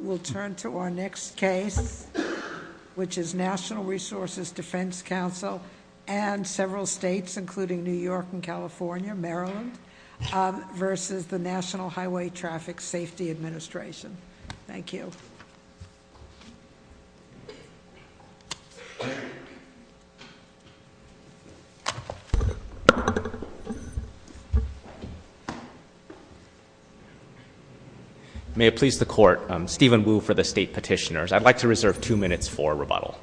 We'll turn to our next case, which is National Resources Defense Council and several states including New York and California, Maryland, versus the National Highway Traffic Safety Administration. Thank you. May it please the Court, I'm Stephen Wu for the State Petitioners. I'd like to reserve two minutes for rebuttal.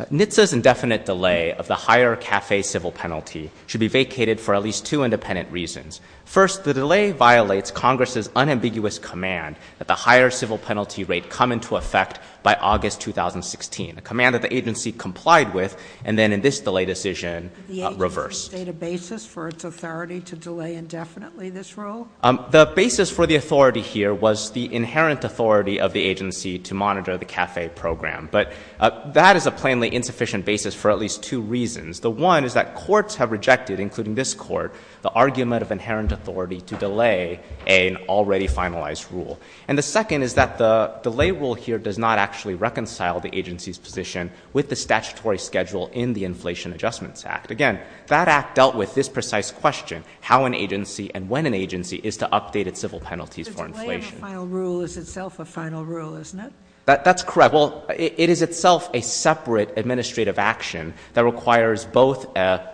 NHTSA's indefinite delay of the higher CAFE civil penalty should be vacated for at least two independent reasons. First, the delay violates Congress's unambiguous command that the higher civil penalty rate come into effect by August 2016, a command that the agency complied with, and then in this delay decision, reversed. Did the agency state a basis for its authority to delay indefinitely this rule? The basis for the authority here was the inherent authority of the agency to monitor the CAFE program, but that is a plainly insufficient basis for at least two reasons. The one is that courts have rejected, including this court, the argument of inherent authority to delay an already finalized rule. And the second is that the delay rule here does not actually reconcile the agency's position with the statutory schedule in the Inflation Adjustments Act. Again, that act dealt with this precise question, how an agency and when an agency is to update its civil penalties for inflation. So delaying a final rule is itself a final rule, isn't it? That's correct. Well, it is itself a separate administrative action that requires both a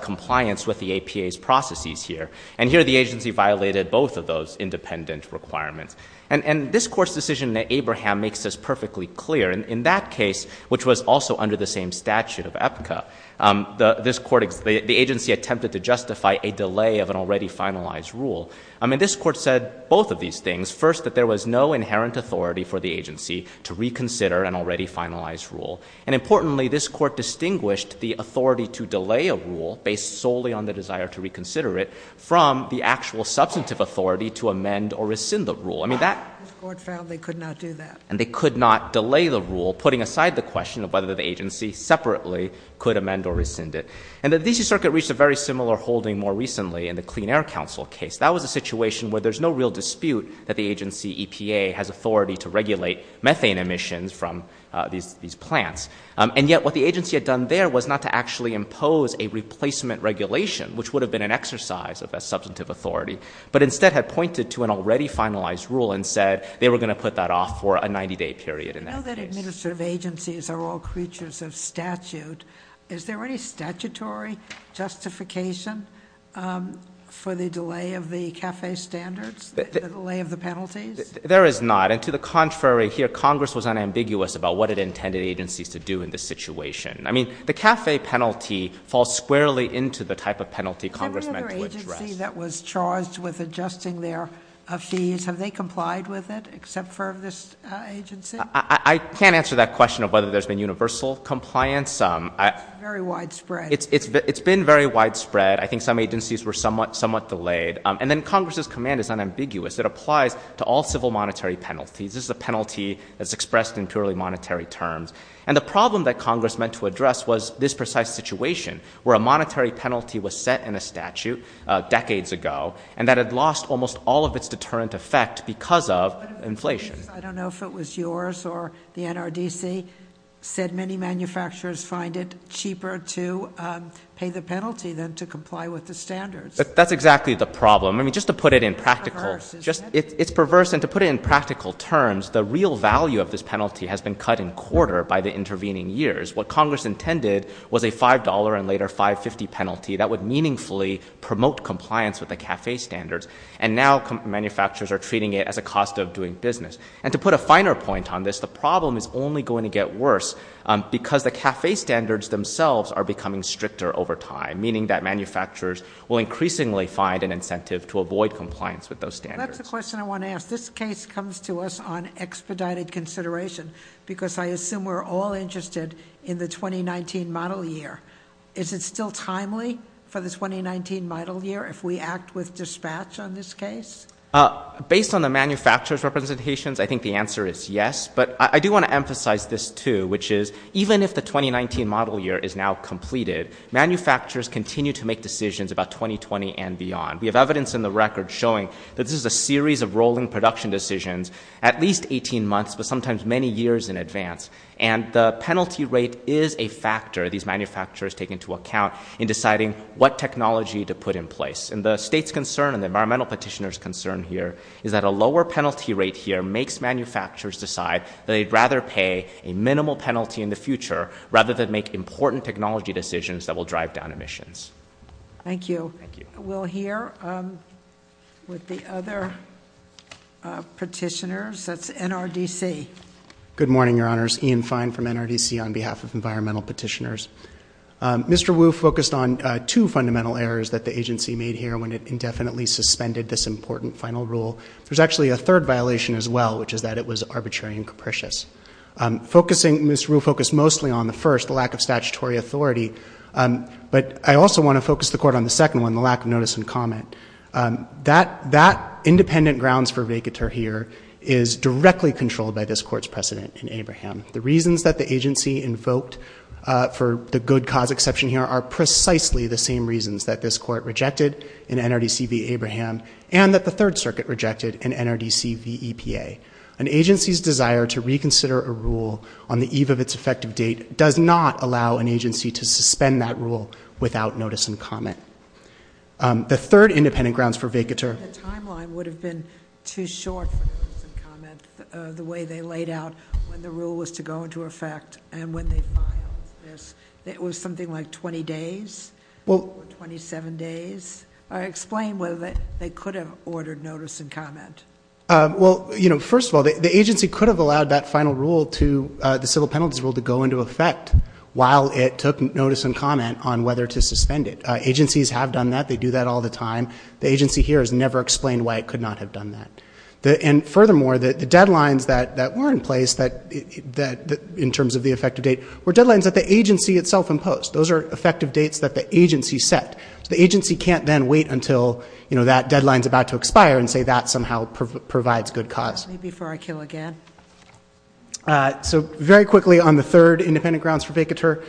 compliance with the APA's processes here, and here the agency violated both of those independent requirements. And this court's decision in Abraham makes this perfectly clear. In that case, which was also under the same statute of APCA, the agency attempted to justify a delay of an already finalized rule. I mean, this court said both of these things. First, that there was no inherent authority for the agency to reconsider an already finalized rule. And importantly, this court distinguished the authority to delay a rule based solely on the desire to reconsider it from the actual substantive authority to amend or rescind the rule. I mean, that — This court found they could not do that. And they could not delay the rule, putting aside the question of whether the agency separately could amend or rescind it. And the D.C. Circuit reached a very similar holding more recently in the Clean Air Council case. That was a situation where there's no real dispute that the agency, EPA, has authority to regulate methane emissions from these plants. And yet, what the agency had done there was not to actually impose a replacement regulation, which would have been an exercise of a substantive authority, but instead had pointed to an already finalized rule and said they were going to put that off for a 90-day period in that case. Now that administrative agencies are all creatures of statute, is there any statutory justification for the delay of the CAFE standards, the delay of the penalties? There is not. And to the contrary here, Congress was unambiguous about what it intended agencies to do in this situation. I mean, the CAFE penalty falls squarely into the type of penalty Congress meant to address. Every other agency that was charged with adjusting their fees, have they complied with it except for this agency? I can't answer that question of whether there's been universal compliance. It's very widespread. It's been very widespread. I think some agencies were somewhat delayed. And then Congress's command is unambiguous. It applies to all civil monetary penalties. This is a penalty that's expressed in purely monetary terms. And the problem that Congress meant to address was this precise situation, where a monetary penalty was set in a statute decades ago, and that had lost almost all of its deterrent effect because of inflation. But if it was yours, I don't know if it was yours, or the NRDC said many manufacturers find it cheaper to pay the penalty than to comply with the standards. That's exactly the problem. I mean, just to put it in practical, it's perverse. And to put it in practical terms, the real value of this penalty has been cut in quarter by the intervening years. What Congress intended was a $5 and later $5.50 penalty that would meaningfully promote compliance with the CAFE standards. And now manufacturers are treating it as a cost of doing business. And to put a finer point on this, the problem is only going to get worse because the CAFE standards themselves are becoming stricter over time, meaning that manufacturers will increasingly find an incentive to avoid compliance with those standards. That's the question I want to ask. This case comes to us on expedited consideration, because I assume we're all interested in the 2019 model year. Is it still timely for the 2019 model year if we act with dispatch on this case? Based on the manufacturer's representations, I think the answer is yes. But I do want to emphasize this too, which is even if the 2019 model year is now completed, manufacturers continue to make decisions about 2020 and beyond. We have evidence in the record showing that this is a series of rolling production decisions at least 18 months, but sometimes many years in advance. And the penalty rate is a factor these manufacturers take into account in deciding what technology to put in place. And the state's concern and the environmental petitioner's concern here is that a lower penalty rate here makes manufacturers decide that they'd rather pay a minimal penalty in the future rather than make important technology decisions that will drive down emissions. Thank you. We'll hear with the other petitioners. That's NRDC. Good morning, Your Honors. Ian Fine from NRDC on behalf of environmental petitioners. Mr. Wu focused on two fundamental errors that the agency made here when it indefinitely suspended this important final rule. There's actually a third violation as well, which is that it was arbitrary and capricious. Ms. Wu focused mostly on the first, the lack of statutory authority. But I also want to focus the court on the second one, the lack of notice and comment. That independent grounds for vacatur here is directly controlled by this court's precedent in Abraham. The reasons that the agency invoked for the good cause exception here are precisely the same reasons that this court rejected in NRDC v. Abraham and that the Third Circuit rejected in NRDC v. EPA. An agency's desire to reconsider a rule on the eve of its effective date does not allow an agency to suspend that rule without notice and comment. The third independent grounds for vacatur... The timeline would have been too short for notice and comment. The way they laid out when the rule was to go into effect and when they filed this, it was something like 20 days or 27 days. Explain whether they could have ordered notice and comment. First of all, the agency could have allowed that final rule, the civil penalties rule, to go into effect while it took notice and comment on whether to suspend it. Agencies have done that. They do that all the time. The agency here has never explained why it were in place that, in terms of the effective date, were deadlines that the agency itself imposed. Those are effective dates that the agency set. The agency can't then wait until that deadline is about to expire and say that somehow provides good cause. Very quickly, on the third independent grounds for vacatur,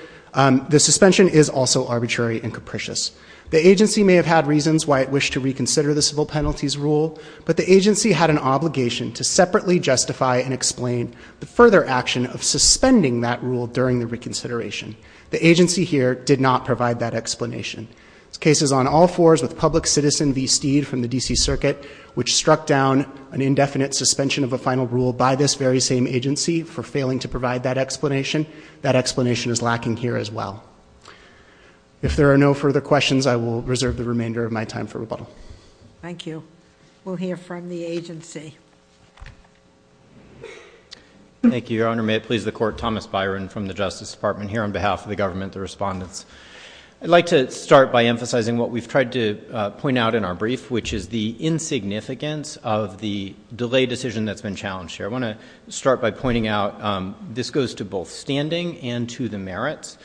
the suspension is also arbitrary and capricious. The agency may have had reasons why it wished to reconsider the civil penalties rule, but the agency had an obligation to separately justify and explain the further action of suspending that rule during the reconsideration. The agency here did not provide that explanation. There's cases on all fours with public citizen v. Steed from the DC Circuit, which struck down an indefinite suspension of a final rule by this very same agency for failing to provide that explanation. That explanation is lacking here as well. If there are no further questions, I will reserve the remainder of my time for rebuttal. Thank you. We'll hear from the agency. Thank you, Your Honor. May it please the Court, Thomas Byron from the Justice Department here on behalf of the government, the respondents. I'd like to start by emphasizing what we've tried to point out in our brief, which is the insignificance of the delay decision that's been challenged here. I want to start by pointing out this goes to both standing and to the effective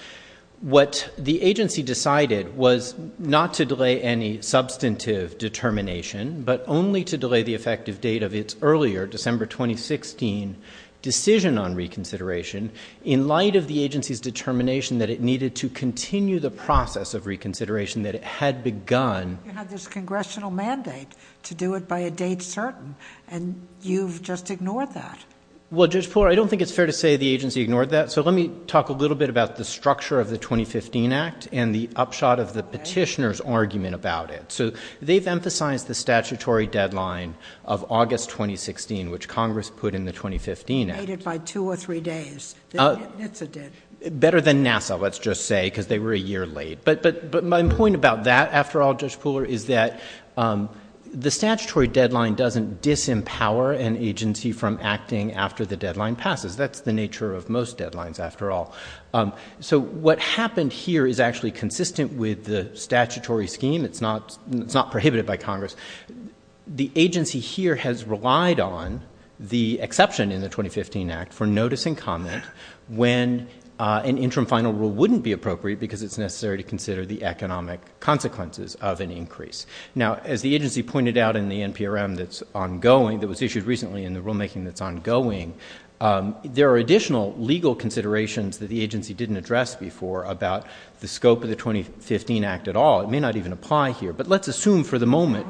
determination, but only to delay the effective date of its earlier December 2016 decision on reconsideration in light of the agency's determination that it needed to continue the process of reconsideration that it had begun. You had this congressional mandate to do it by a date certain, and you've just ignored that. Well, Judge Porer, I don't think it's fair to say the agency ignored that, so let me talk a little bit about the structure of the statute. We've emphasized the statutory deadline of August 2016, which Congress put in the 2015 act. Made it by two or three days than NHTSA did. Better than NASA, let's just say, because they were a year late. But my point about that, after all, Judge Porer, is that the statutory deadline doesn't disempower an agency from acting after the deadline passes. That's the nature of most deadlines, after all. So what happened here is actually consistent with the statutory scheme. It's not prohibited by Congress. The agency here has relied on the exception in the 2015 act for notice and comment when an interim final rule wouldn't be appropriate because it's necessary to consider the economic consequences of an increase. Now as the agency pointed out in the NPRM that's ongoing, that was issued recently in the rulemaking that's ongoing, there are additional legal considerations that the agency didn't address before about the scope of the 2015 act at all. It may not even apply here. But let's assume for the moment...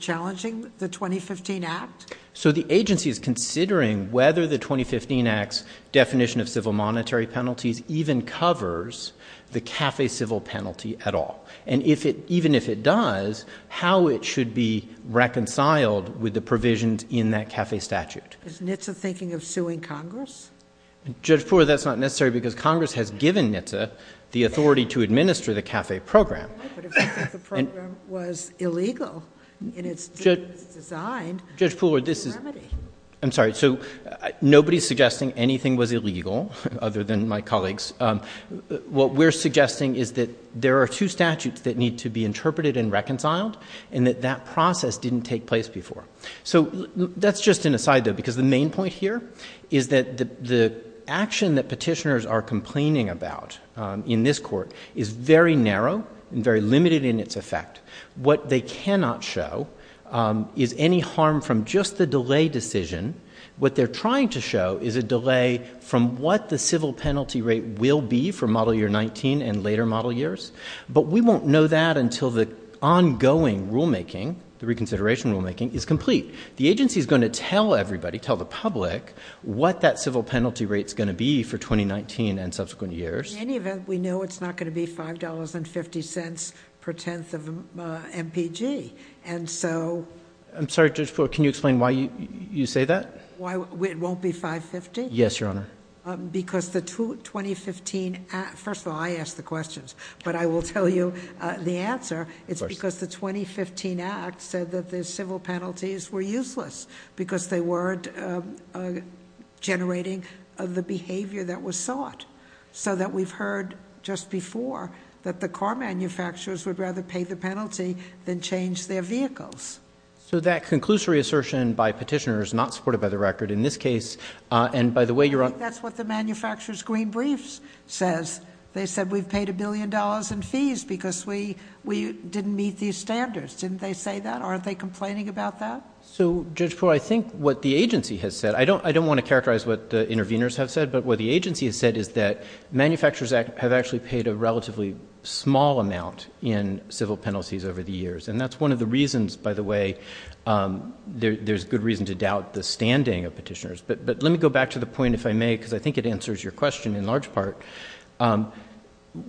Challenging the 2015 act? So the agency is considering whether the 2015 act's definition of civil monetary penalties even covers the CAFE civil penalty at all. And even if it does, how it should be reconciled with the provisions in that CAFE statute. Is NHTSA thinking of suing Congress? Judge Pooler, that's not necessary because Congress has given NHTSA the authority to administer the CAFE program. But if you think the program was illegal in its design... Judge Pooler, this is... ...what's the remedy? I'm sorry. So nobody's suggesting anything was illegal other than my colleagues. What we're suggesting is that there are two statutes that need to be interpreted and reconciled and that that process didn't take place before. So that's just an aside, though, because the main point here is that the action that petitioners are complaining about in this court is very narrow and very limited in its effect. What they cannot show is any harm from just the delay decision. What they're trying to show is a delay from what the civil penalty rate will be for model year 19 and later model years. But we won't know that until the ongoing rulemaking, the reconsideration rulemaking, is complete. The agency is going to tell everybody, tell the public, what that civil penalty rate is going to be for 2019 and subsequent years. In any event, we know it's not going to be $5.50 per tenth of an MPG. And so... I'm sorry, Judge Pooler, can you explain why you say that? Why it won't be $5.50? Yes, Your Honor. Because the 2015 Act... First of all, I asked the questions, but I will tell you the answer. It's because the 2015 Act said that the civil penalties were useless because they weren't generating the behavior that was sought. So that we've heard just before that the car manufacturers would rather pay the penalty than change their vehicles. So that conclusory assertion by petitioners not supported by the record in this case, and by the way, Your Honor... I think that's what the manufacturer's green briefs says. They said, we've paid a billion dollars in fees because we didn't meet these standards. Didn't they say that? Aren't they complaining about that? So, Judge Poole, I think what the agency has said... I don't want to characterize what the interveners have said, but what the agency has said is that manufacturers have actually paid a relatively small amount in civil penalties over the years. And that's one of the reasons, by the way, there's good reason to doubt the standing of petitioners. But let me go back to the point, if I may, because I think it answers your question in large part.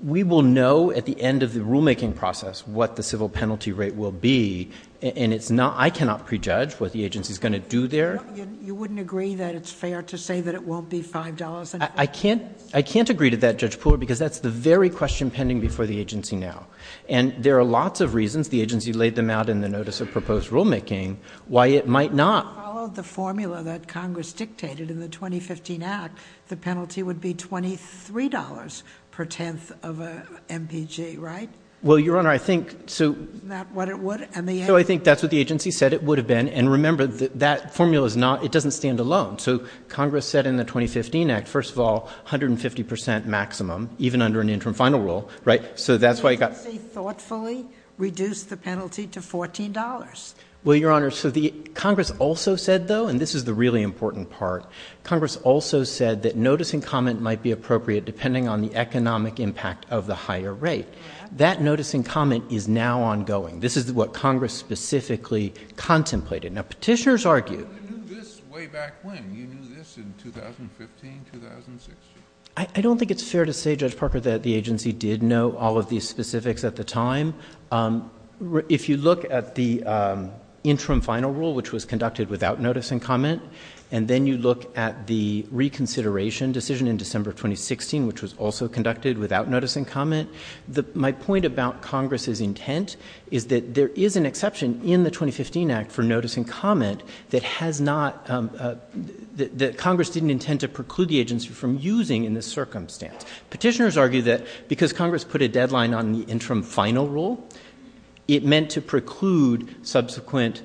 We will know at the end of the rulemaking process what the civil penalty rate will be. And it's not... I cannot prejudge what the agency is going to do there. No, you wouldn't agree that it's fair to say that it won't be $5. I can't. I can't agree to that, Judge Poole, because that's the very question pending before the agency now. And there are lots of reasons the agency laid them out in the notice of proposed rulemaking why it might not. If you followed the formula that Congress dictated in the 2015 Act, the penalty would be $23 per tenth of an MPG, right? Well, Your Honor, I think... Isn't that what it would? So I think that's what the agency said it would have been. And remember, that formula is not... It doesn't stand alone. So Congress said in the 2015 Act, first of all, 150% maximum, even under an interim final rule, right? So that's why it got... The agency thoughtfully reduced the penalty to $14. Well, Your Honor, so Congress also said, though, and this is the really important part, Congress also said that notice and comment might be appropriate depending on the economic impact of the higher rate. That notice and comment is now ongoing. This is what Congress specifically contemplated. Now, Petitioners argued... But you knew this way back when. You knew this in 2015, 2016. I don't think it's fair to say, Judge Parker, that the agency did know all of these interim final rule, which was conducted without notice and comment. And then you look at the reconsideration decision in December 2016, which was also conducted without notice and comment. My point about Congress's intent is that there is an exception in the 2015 Act for notice and comment that has not... That Congress didn't intend to preclude the agency from using in this circumstance. Petitioners argue that because Congress put a deadline on the interim final rule, it meant to preclude subsequent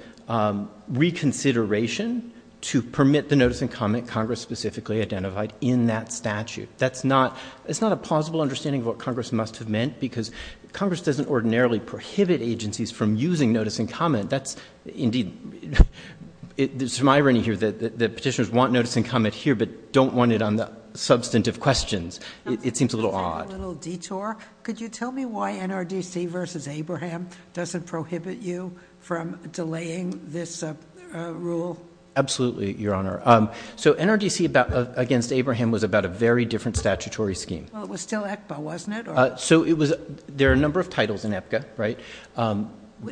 reconsideration to permit the notice and comment Congress specifically identified in that statute. That's not... It's not a plausible understanding of what Congress must have meant because Congress doesn't ordinarily prohibit agencies from using notice and comment. That's indeed... There's some irony here that Petitioners want notice and comment here but don't want it on the substantive questions. It seems a little odd. A little detour. Could you tell me why NRDC versus Abraham doesn't prohibit you from delaying this rule? Absolutely, Your Honor. So NRDC against Abraham was about a very different statutory scheme. Well, it was still ECPA, wasn't it? So it was... There are a number of titles in EPCA, right?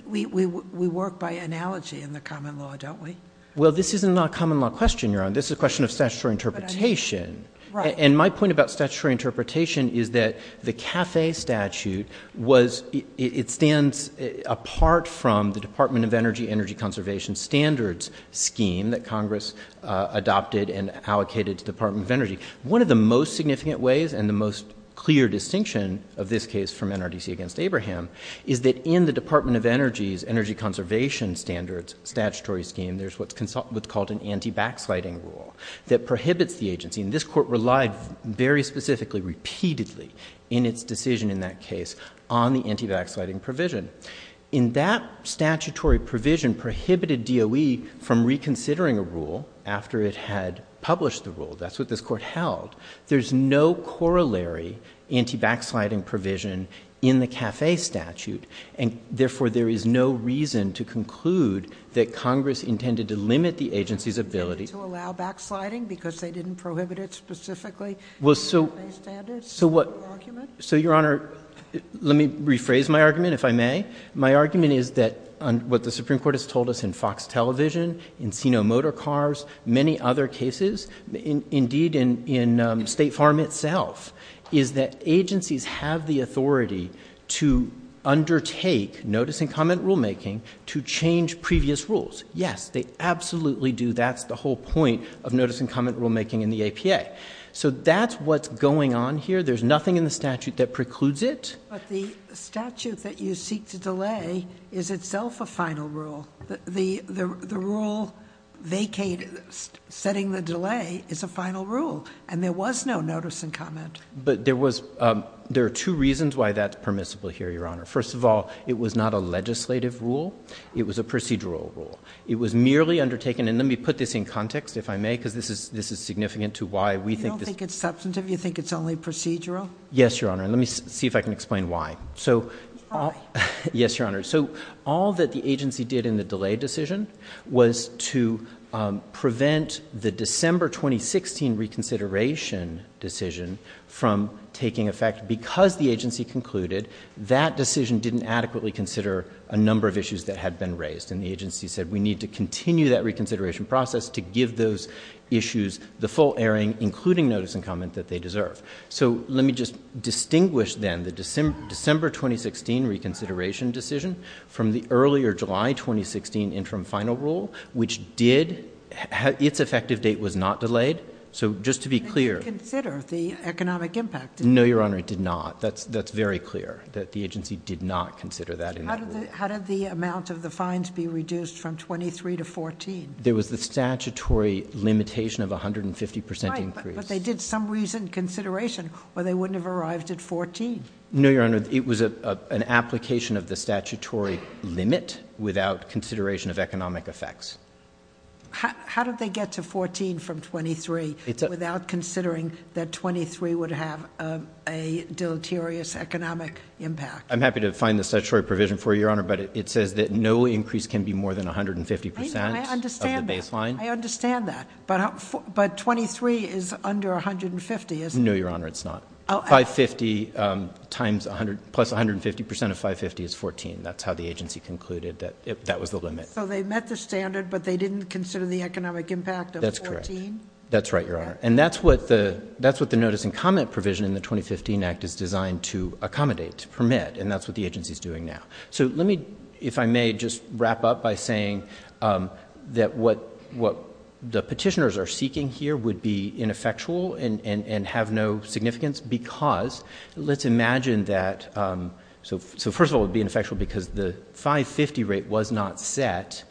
We work by analogy in the common law, don't we? Well, this is not a common law question, Your Honor. This is a question of statutory interpretation. And my point about statutory interpretation is that the CAFE statute was... It stands apart from the Department of Energy Energy Conservation Standards scheme that Congress adopted and allocated to Department of Energy. One of the most significant ways and the most clear distinction of this case from NRDC against Abraham is that in the Department of Energy's Energy Conservation Standards statutory scheme, there's what's called an anti-backsliding rule that prohibits the agency. And this court relied very specifically, repeatedly in its decision in that case on the anti-backsliding provision. In that statutory provision prohibited DOE from reconsidering a rule after it had published the rule. That's what this court held. There's no corollary anti-backsliding provision in the CAFE statute. And therefore, there is no reason to conclude that Congress intended to limit the Well, so, Your Honor, let me rephrase my argument, if I may. My argument is that what the Supreme Court has told us in Fox Television, in Sino Motor Cars, many other cases, indeed in State Farm itself, is that agencies have the authority to undertake notice and comment rulemaking to change previous rules. Yes, they absolutely do. That's the whole point of notice and comment rulemaking in the APA. So that's what's going on here. There's nothing in the statute that precludes it. But the statute that you seek to delay is itself a final rule. The rule vacated, setting the delay is a final rule. And there was no notice and comment. But there was, there are two reasons why that's permissible here, Your Honor. First of all, it was not a legislative rule. It was a procedural rule. It was merely undertaken, and let me put this in context, if I may, because this is significant to why we think this You don't think it's substantive? You think it's only procedural? Yes, Your Honor. And let me see if I can explain why. Why? Yes, Your Honor. So all that the agency did in the delay decision was to prevent the December 2016 reconsideration decision from taking effect because the agency concluded that decision didn't adequately consider a number of issues that had been raised. And the agency said, we need to to give those issues the full airing, including notice and comment that they deserve. So let me just distinguish, then, the December 2016 reconsideration decision from the earlier July 2016 interim final rule, which did, its effective date was not delayed. So just to be clear— It didn't consider the economic impact. No, Your Honor, it did not. That's very clear, that the agency did not consider that in that rule. How did the amount of the fines be reduced from 23 to 14? There was the statutory limitation of 150% increase. But they did some reasoned consideration, or they wouldn't have arrived at 14. No, Your Honor, it was an application of the statutory limit without consideration of economic effects. How did they get to 14 from 23 without considering that 23 would have a deleterious economic impact? I'm happy to find the statutory provision for you, Your Honor, but it says that no increase can be more than 150%. I understand that, but 23 is under 150, isn't it? No, Your Honor, it's not. 550 plus 150% of 550 is 14. That's how the agency concluded that that was the limit. So they met the standard, but they didn't consider the economic impact of 14? That's correct. That's right, Your Honor. And that's what the notice and comment provision in the 2015 Act is designed to accommodate, to permit, and that's what the agency's doing now. So let me, if I may, just wrap up by saying that what the petitioners are seeking here would be ineffectual and have no significance because, let's imagine that, so first of all, it would be ineffectual because the 550 rate was not set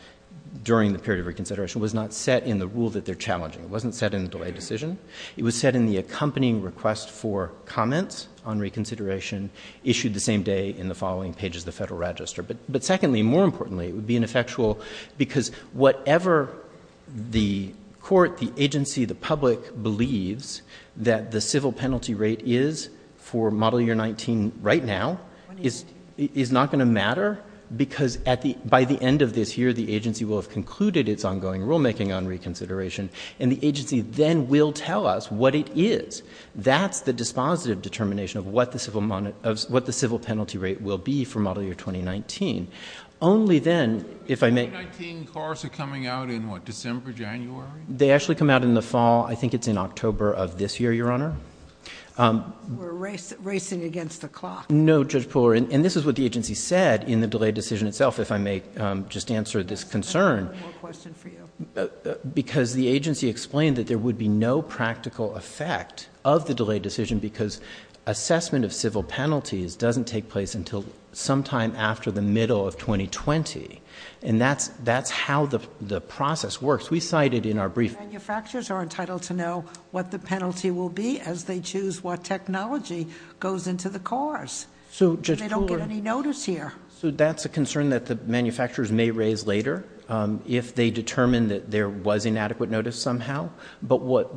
during the period of reconsideration, was not set in the rule that they're challenging. It wasn't set in the delay decision. It was set in the accompanying request for comments on reconsideration, issued the same day in the following pages of the Federal Register. But secondly, more importantly, it would be ineffectual because whatever the court, the agency, the public believes that the civil penalty rate is for Model Year 19 right now is not going to matter because by the end of this year, the agency will have concluded its ongoing rulemaking on reconsideration, and the agency then will tell us what it is. That's the dispositive determination of what the civil penalty rate will be for Model Year 2019. Only then, if I may— 2019 cars are coming out in what, December, January? They actually come out in the fall. I think it's in October of this year, Your Honor. We're racing against the clock. No, Judge Pooler, and this is what the agency said in the delay decision itself, if I may just answer this concern— I have one more question for you. Because the agency explained that there would be no practical effect of the delay decision because assessment of civil penalties doesn't take place until sometime after the middle of 2020. And that's how the process works. We cited in our brief— Manufacturers are entitled to know what the penalty will be as they choose what technology goes into the cars. So, Judge Pooler— They don't get any notice here. So, that's a concern that the manufacturers may raise later if they determine that there was inadequate notice somehow. But what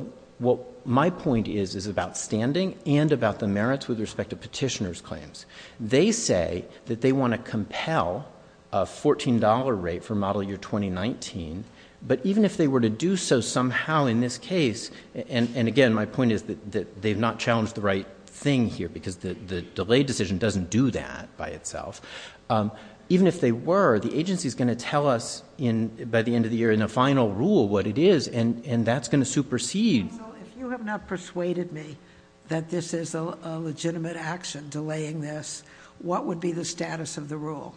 my point is, is about standing and about the merits with respect to petitioner's claims. They say that they want to compel a $14 rate for Model Year 2019. But even if they were to do so somehow in this case— And again, my point is that they've not challenged the right thing here because the delay decision doesn't do that by itself. Even if they were, the agency's going to tell us by the end of the year in a final rule what it is, and that's going to supersede— So, if you have not persuaded me that this is a legitimate action, delaying this, what would be the status of the rule?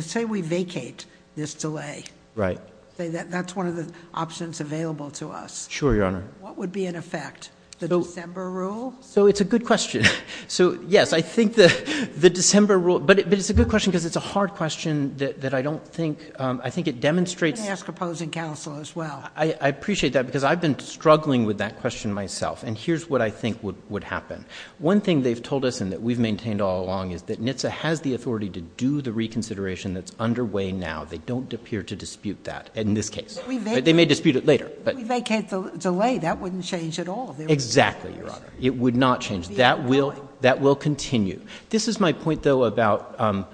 Say we vacate this delay. Right. Say that's one of the options available to us. Sure, Your Honor. What would be in effect? The December rule? So, it's a good question. So, yes, I think the December rule— But it's a good question because it's a hard question that I don't think— I think it demonstrates— I'm going to ask opposing counsel as well. I appreciate that because I've been struggling with that question myself, and here's what I think would happen. One thing they've told us and that we've maintained all along is that NHTSA has the authority to do the reconsideration that's underway now. They don't appear to dispute that in this case. They may dispute it later, but— If we vacate the delay, that wouldn't change at all. Exactly, Your Honor. It would not change. That will continue. This is my point, though, about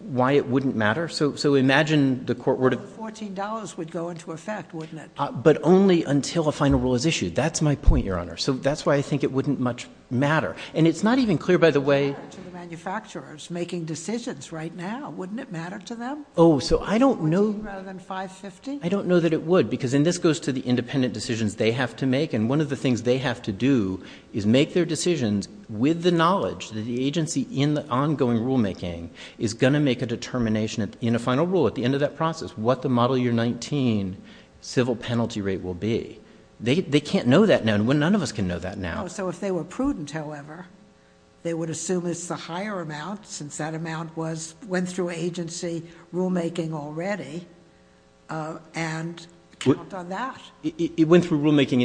why it wouldn't matter. So, imagine the court were to— $14 would go into effect, wouldn't it? But only until a final rule is issued. That's my point, Your Honor. So, that's why I think it wouldn't much matter. And it's not even clear, by the way— Wouldn't it matter to the manufacturers making decisions right now? Wouldn't it matter to them? Oh, so I don't know— $14 rather than $5.50? I don't know that it would because— and this goes to the independent decisions they have to make, and one of the things they have to do is make their decisions with the knowledge that the agency in the ongoing rulemaking is going to make a determination in a final rule at the end of that process what the model year 19 civil penalty rate will be. They can't know that now. None of us can know that now. So, if they were prudent, however, they would assume it's the higher amount, since that amount went through agency rulemaking already, and count on that. It went through rulemaking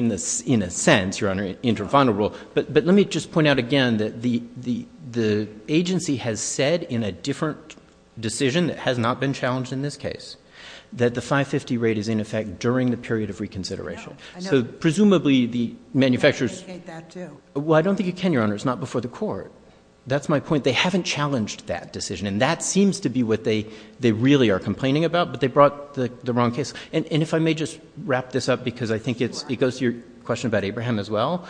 in a sense, Your Honor, inter-final rule. But let me just point out again that the agency has said in a different decision that has not been challenged in this case that the $5.50 rate is in effect during the period of reconsideration. So, presumably, the manufacturers— I can indicate that, too. Well, I don't think you can, Your Honor. It's not before the court. That's my point. They haven't challenged that decision, and that seems to be what they really are complaining about, but they brought the wrong case. And if I may just wrap this up, because I think it goes to your question about Abraham as well.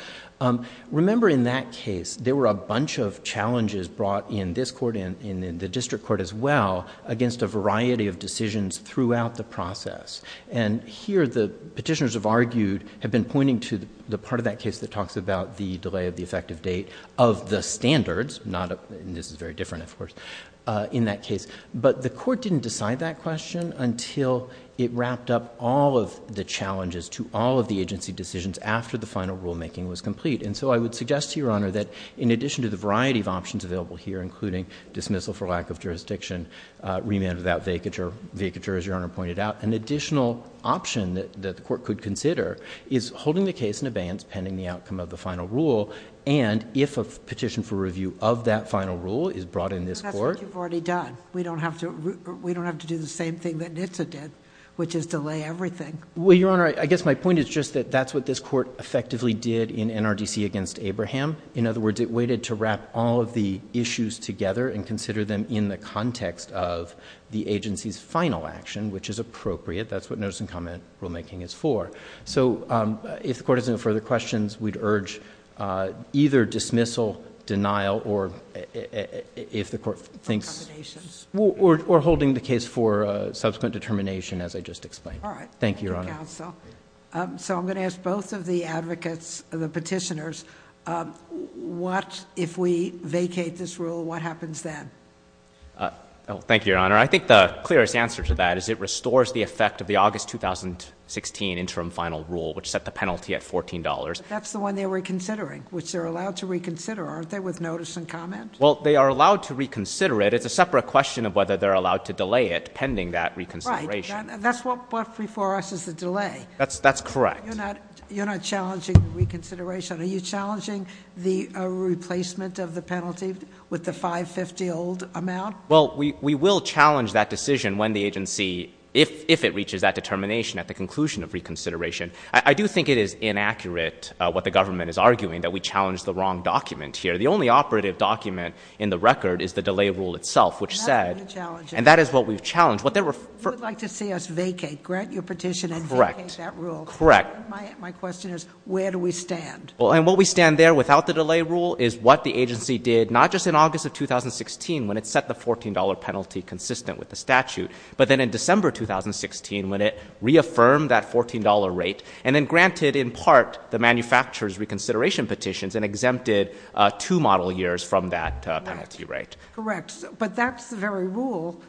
Remember, in that case, there were a bunch of challenges brought in this court, and in the district court as well, against a variety of decisions throughout the process. And here, the petitioners have argued, have been pointing to the part of that case that talks about the delay of the effective date of the standards, not—and this is very different, of course—in that case. But the court didn't decide that question until it wrapped up all of the challenges to all of the agency decisions after the final rulemaking was complete. And so, I would suggest to Your Honor that in addition to the variety of options available here, including dismissal for lack of jurisdiction, remand without vacature, vacature, as Your Honor pointed out, an additional option that the court could consider is holding the case in abeyance pending the outcome of the final rule, and if a petition for review of that final rule is brought in this court— That's what you've already done. We don't have to do the same thing that NHTSA did, which is delay everything. Well, Your Honor, I guess my point is just that that's what this court effectively did in NRDC against Abraham. In other words, it waited to wrap all of the issues together and consider them in the context of the agency's final action, which is appropriate. That's what notice and comment rulemaking is for. So, if the court has no further questions, we'd urge either dismissal, denial, or if the court thinks— Or accommodations. Or holding the case for subsequent determination, as I just explained. All right. Thank you, Your Honor. So, I'm going to ask both of the advocates, the petitioners, if we vacate this rule, what happens then? Well, thank you, Your Honor. I think the clearest answer to that is it restores the effect of the August 2016 interim final rule, which set the penalty at $14. That's the one they're reconsidering, which they're allowed to reconsider, aren't they, with notice and comment? Well, they are allowed to reconsider it. It's a separate question of whether they're allowed to delay it pending that reconsideration. That's what before us is the delay. That's correct. You're not challenging reconsideration. Are you challenging the replacement of the penalty with the $5.50 old amount? Well, we will challenge that decision when the agency— if it reaches that determination at the conclusion of reconsideration. I do think it is inaccurate what the government is arguing, that we challenged the wrong document here. The only operative document in the record is the delay rule itself, which said— That's what you're challenging. And that is what we've challenged. What they were— If you would like to see us vacate, grant your petition and vacate that rule. Correct. My question is, where do we stand? Well, and where we stand there without the delay rule is what the agency did, not just in August of 2016, when it set the $14 penalty consistent with the statute, but then in December 2016, when it reaffirmed that $14 rate and then granted, in part, the manufacturer's reconsideration petitions and exempted two model years from that penalty rate. Correct. But that's the very rule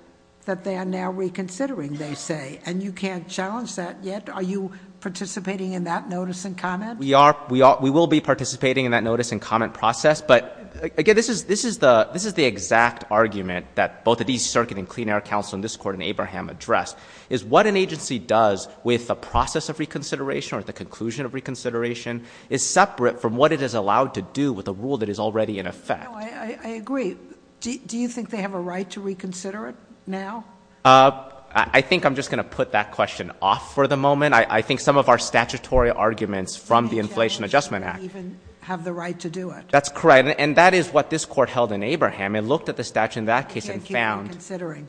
that they are now reconsidering, they say. And you can't challenge that yet? Are you participating in that notice and comment? We are. We will be participating in that notice and comment process. But again, this is the exact argument that both the East Circuit and Clean Air Council and this Court and Abraham addressed, is what an agency does with the process of reconsideration or the conclusion of reconsideration is separate from what it is allowed to do with a rule that is already in effect. No, I agree. Do you think they have a right to reconsider it? Now? I think I'm just going to put that question off for the moment. I think some of our statutory arguments from the Inflation Adjustment Act... They can't even have the right to do it. That's correct. And that is what this Court held in Abraham. It looked at the statute in that case and found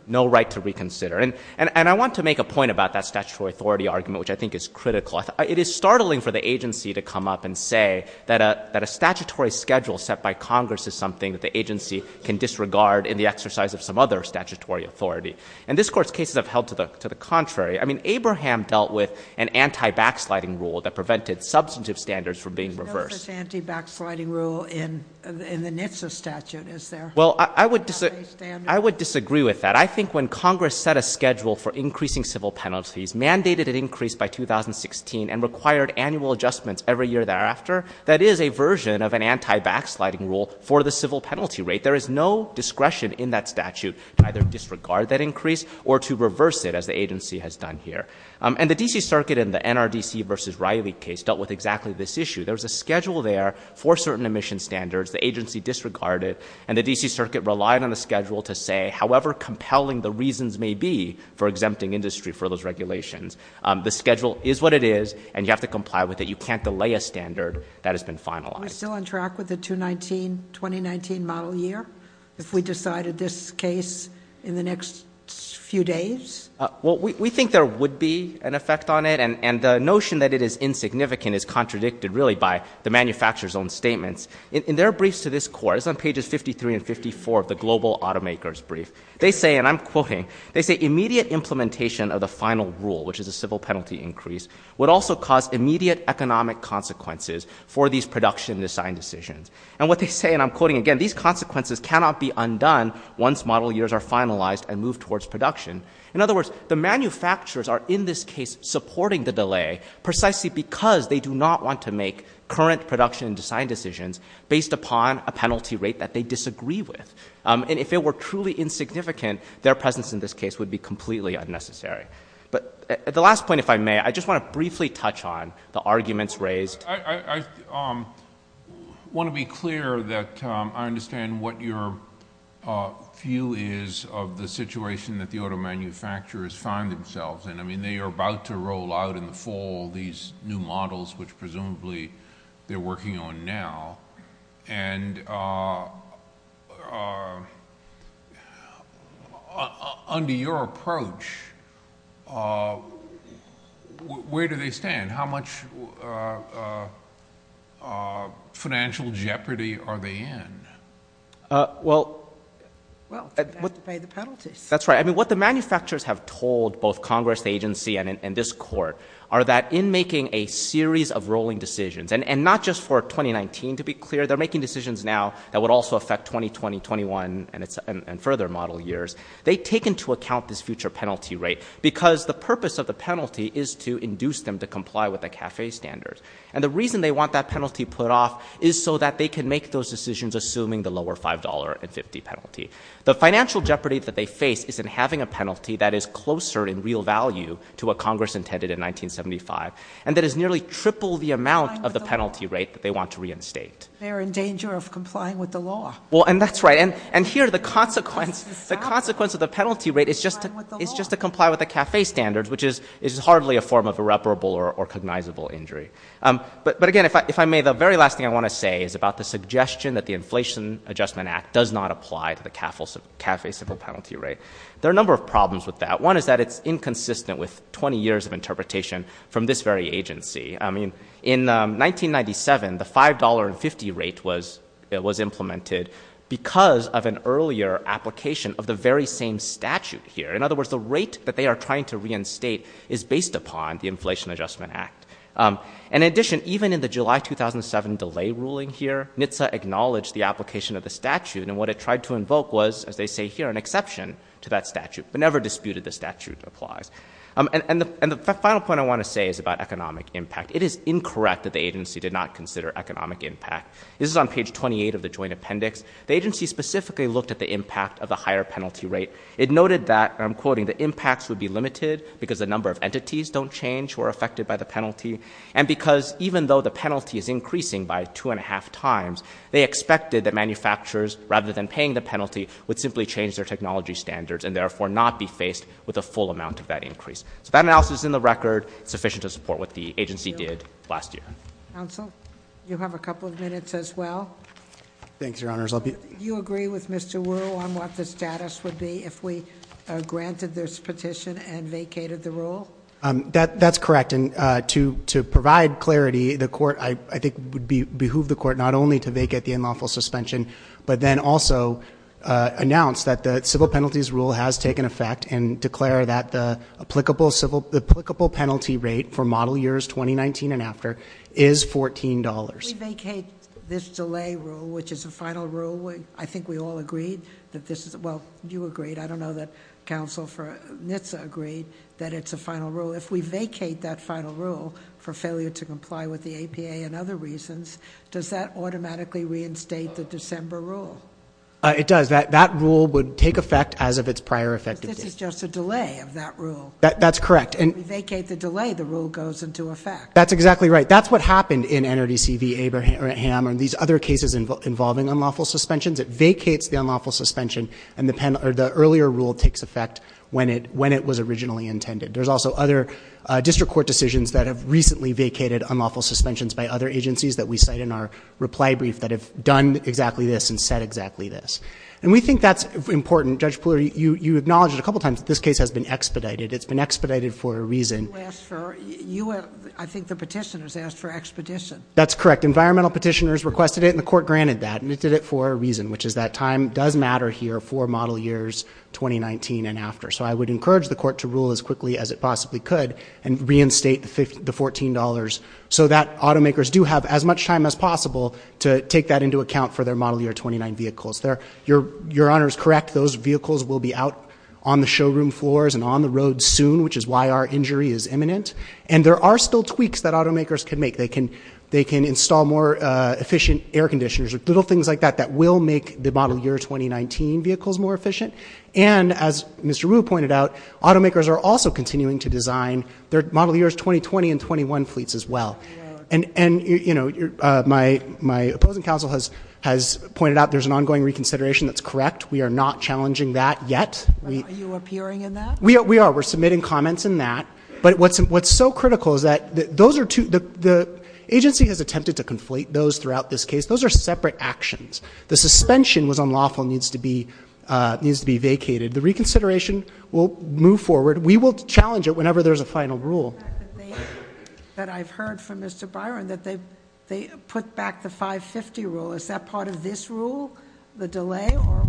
no right to reconsider. And I want to make a point about that statutory authority argument, which I think is critical. It is startling for the agency to come up and say that a statutory schedule set by Congress is something that the agency can disregard in the exercise of some other statutory authority. And this Court's cases have held to the contrary. I mean, Abraham dealt with an anti-backsliding rule that prevented substantive standards from being reversed. There's no such anti-backsliding rule in the NHTSA statute, is there? Well, I would disagree with that. I think when Congress set a schedule for increasing civil penalties, mandated an increase by 2016, and required annual adjustments every year thereafter, that is a version of an anti-backsliding rule for the civil penalty rate. There is no discretion in that statute to either disregard that increase or to reverse it, as the agency has done here. And the D.C. Circuit in the NRDC v. Riley case dealt with exactly this issue. There was a schedule there for certain emission standards the agency disregarded, and the D.C. Circuit relied on the schedule to say however compelling the reasons may be for exempting industry for those regulations. The schedule is what it is, and you have to comply with it. You can't delay a standard that has been finalized. Still on track with the 2019 model year, if we decided this case in the next few days? Well, we think there would be an effect on it, and the notion that it is insignificant is contradicted really by the manufacturer's own statements. In their briefs to this court, it's on pages 53 and 54 of the Global Automakers Brief, they say, and I'm quoting, they say immediate implementation of the final rule, which is a civil penalty increase, would also cause immediate economic consequences for these production design decisions. And what they say, and I'm quoting again, these consequences cannot be undone once model years are finalized and moved towards production. In other words, the manufacturers are in this case supporting the delay precisely because they do not want to make current production and design decisions based upon a penalty rate that they disagree with. And if it were truly insignificant, their presence in this case would be completely unnecessary. But at the last point, if I may, I just want to briefly touch on the arguments raised. I want to be clear that I understand what your view is of the situation that the auto manufacturers find themselves in. I mean, they are about to roll out in the fall these new models, which presumably they're working on now. And under your approach, where do they stand? How much financial jeopardy are they in? Well, to pay the penalties. That's right. I mean, what the manufacturers have told both Congress, the agency and this court are that in making a series of rolling decisions, and not just for 2019, to be clear, they're making decisions now that would also affect 2020, 21 and further model years. They take into account this future penalty rate because the purpose of the penalty is to induce them to comply with the CAFE standards. And the reason they want that penalty put off is so that they can make those decisions assuming the lower $5 and 50 penalty. The financial jeopardy that they face is in having a penalty that is closer in real value to what Congress intended in 1975. And that is nearly triple the amount of the penalty rate that they want to reinstate. They're in danger of complying with the law. Well, and that's right. And here the consequence of the penalty rate is just to comply with the CAFE standards, which is hardly a form of irreparable or cognizable injury. But again, if I may, the very last thing I want to say is about the suggestion that the Inflation Adjustment Act does not apply to the CAFE civil penalty rate. There are a number of problems with that. One is that it's inconsistent with 20 years of interpretation from this very agency. I mean, in 1997, the $5 and 50 rate was implemented because of an earlier application of the very same statute here. In other words, the rate that they are trying to reinstate is based upon the Inflation Adjustment Act. And in addition, even in the July 2007 delay ruling here, NHTSA acknowledged the application of the statute. And what it tried to invoke was, as they say here, an exception to that statute, but never disputed the statute applies. And the final point I want to say is about economic impact. It is incorrect that the agency did not consider economic impact. This is on page 28 of the joint appendix. The agency specifically looked at the impact of the higher penalty rate. It noted that, and I'm quoting, the impacts would be limited because the number of entities don't change who are affected by the penalty. And because even though the penalty is increasing by two and a half times, they expected that manufacturers, rather than paying the penalty, would simply change their technology standards and therefore not be faced with a full amount of that increase. So that analysis is in the record. It's sufficient to support what the agency did last year. Counsel, you have a couple of minutes as well. Thanks, Your Honors. Do you agree with Mr. Wu on what the status would be if we granted this petition and vacated the rule? That's correct. And to provide clarity, the court, I think, would behoove the court not only to vacate the unlawful suspension, but then also announce that the civil penalties rule has taken effect and declare that the applicable penalty rate for model years 2019 and after is $14. We vacate this delay rule, which is a final rule. I think we all agreed that this is... Well, you agreed. I don't know that Counsel for NHTSA agreed that it's a final rule. If we vacate that final rule for failure to comply with the APA and other reasons, does that automatically reinstate the December rule? It does. That rule would take effect as of its prior effect. This is just a delay of that rule. That's correct. And we vacate the delay, the rule goes into effect. That's exactly right. That's what happened in NRDC v. Abraham and these other cases involving unlawful suspensions. It vacates the unlawful suspension and the earlier rule takes effect when it was originally intended. There's also other district court decisions that have recently vacated unlawful suspensions by other agencies that we cite in our reply brief that have done exactly this and said exactly this. And we think that's important. Judge Pooler, you acknowledged a couple of times this case has been expedited. It's been expedited for a reason. I think the petitioners asked for expedition. That's correct. Environmental petitioners requested it and the court granted that and it did it for a reason, which is that time does matter here for model years 2019 and after. So I would encourage the court to rule as quickly as it possibly could and reinstate the $14 so that automakers do have as much time as possible to take that into account for their model year 29 vehicles. Your Honor is correct. Those vehicles will be out on the showroom floors and on the road soon, which is why our injury is imminent. And there are still tweaks that automakers can make. They can install more efficient air conditioners or little things like that that will make the model year 2019 vehicles more efficient. And as Mr. Rue pointed out, automakers are also continuing to design their model years 2020 and 21 fleets as well. And, you know, my opposing counsel has pointed out there's an ongoing reconsideration. That's correct. We are not challenging that yet. Are you appearing in that? We are. We're submitting comments in that. But what's so critical is that the agency has attempted to conflate those throughout this case. Those are separate actions. The suspension was unlawful needs to be needs to be vacated. The reconsideration will move forward. We will challenge it whenever there's a final rule. That I've heard from Mr. Byron that they they put back the 550 rule. Is that part of this rule? The delay or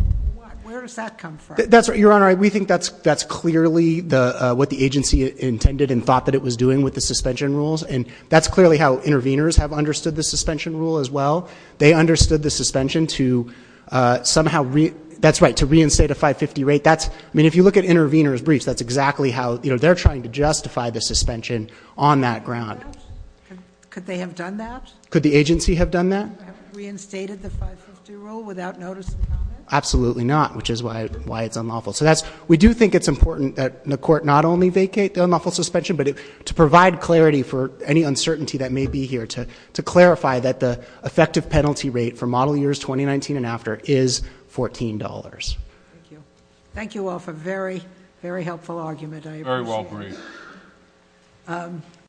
where does that come from? That's right, Your Honor. We think that's that's clearly the what the agency intended and thought that it was doing with the suspension rules. And that's clearly how interveners have understood the suspension rule as well. They understood the suspension to somehow. That's right. To reinstate a 550 rate. That's I mean, if you look at intervener's briefs, that's exactly how they're trying to justify the suspension on that ground. Could they have done that? Could the agency have done that? Reinstated the 550 rule without notice? Absolutely not, which is why why it's unlawful. So that's we do think it's important that the court not only vacate the unlawful suspension, but to provide clarity for any uncertainty that may be here to to clarify that the effective penalty rate for model years 2019 and after is $14. Thank you. Thank you all for very, very helpful argument. I very well agree.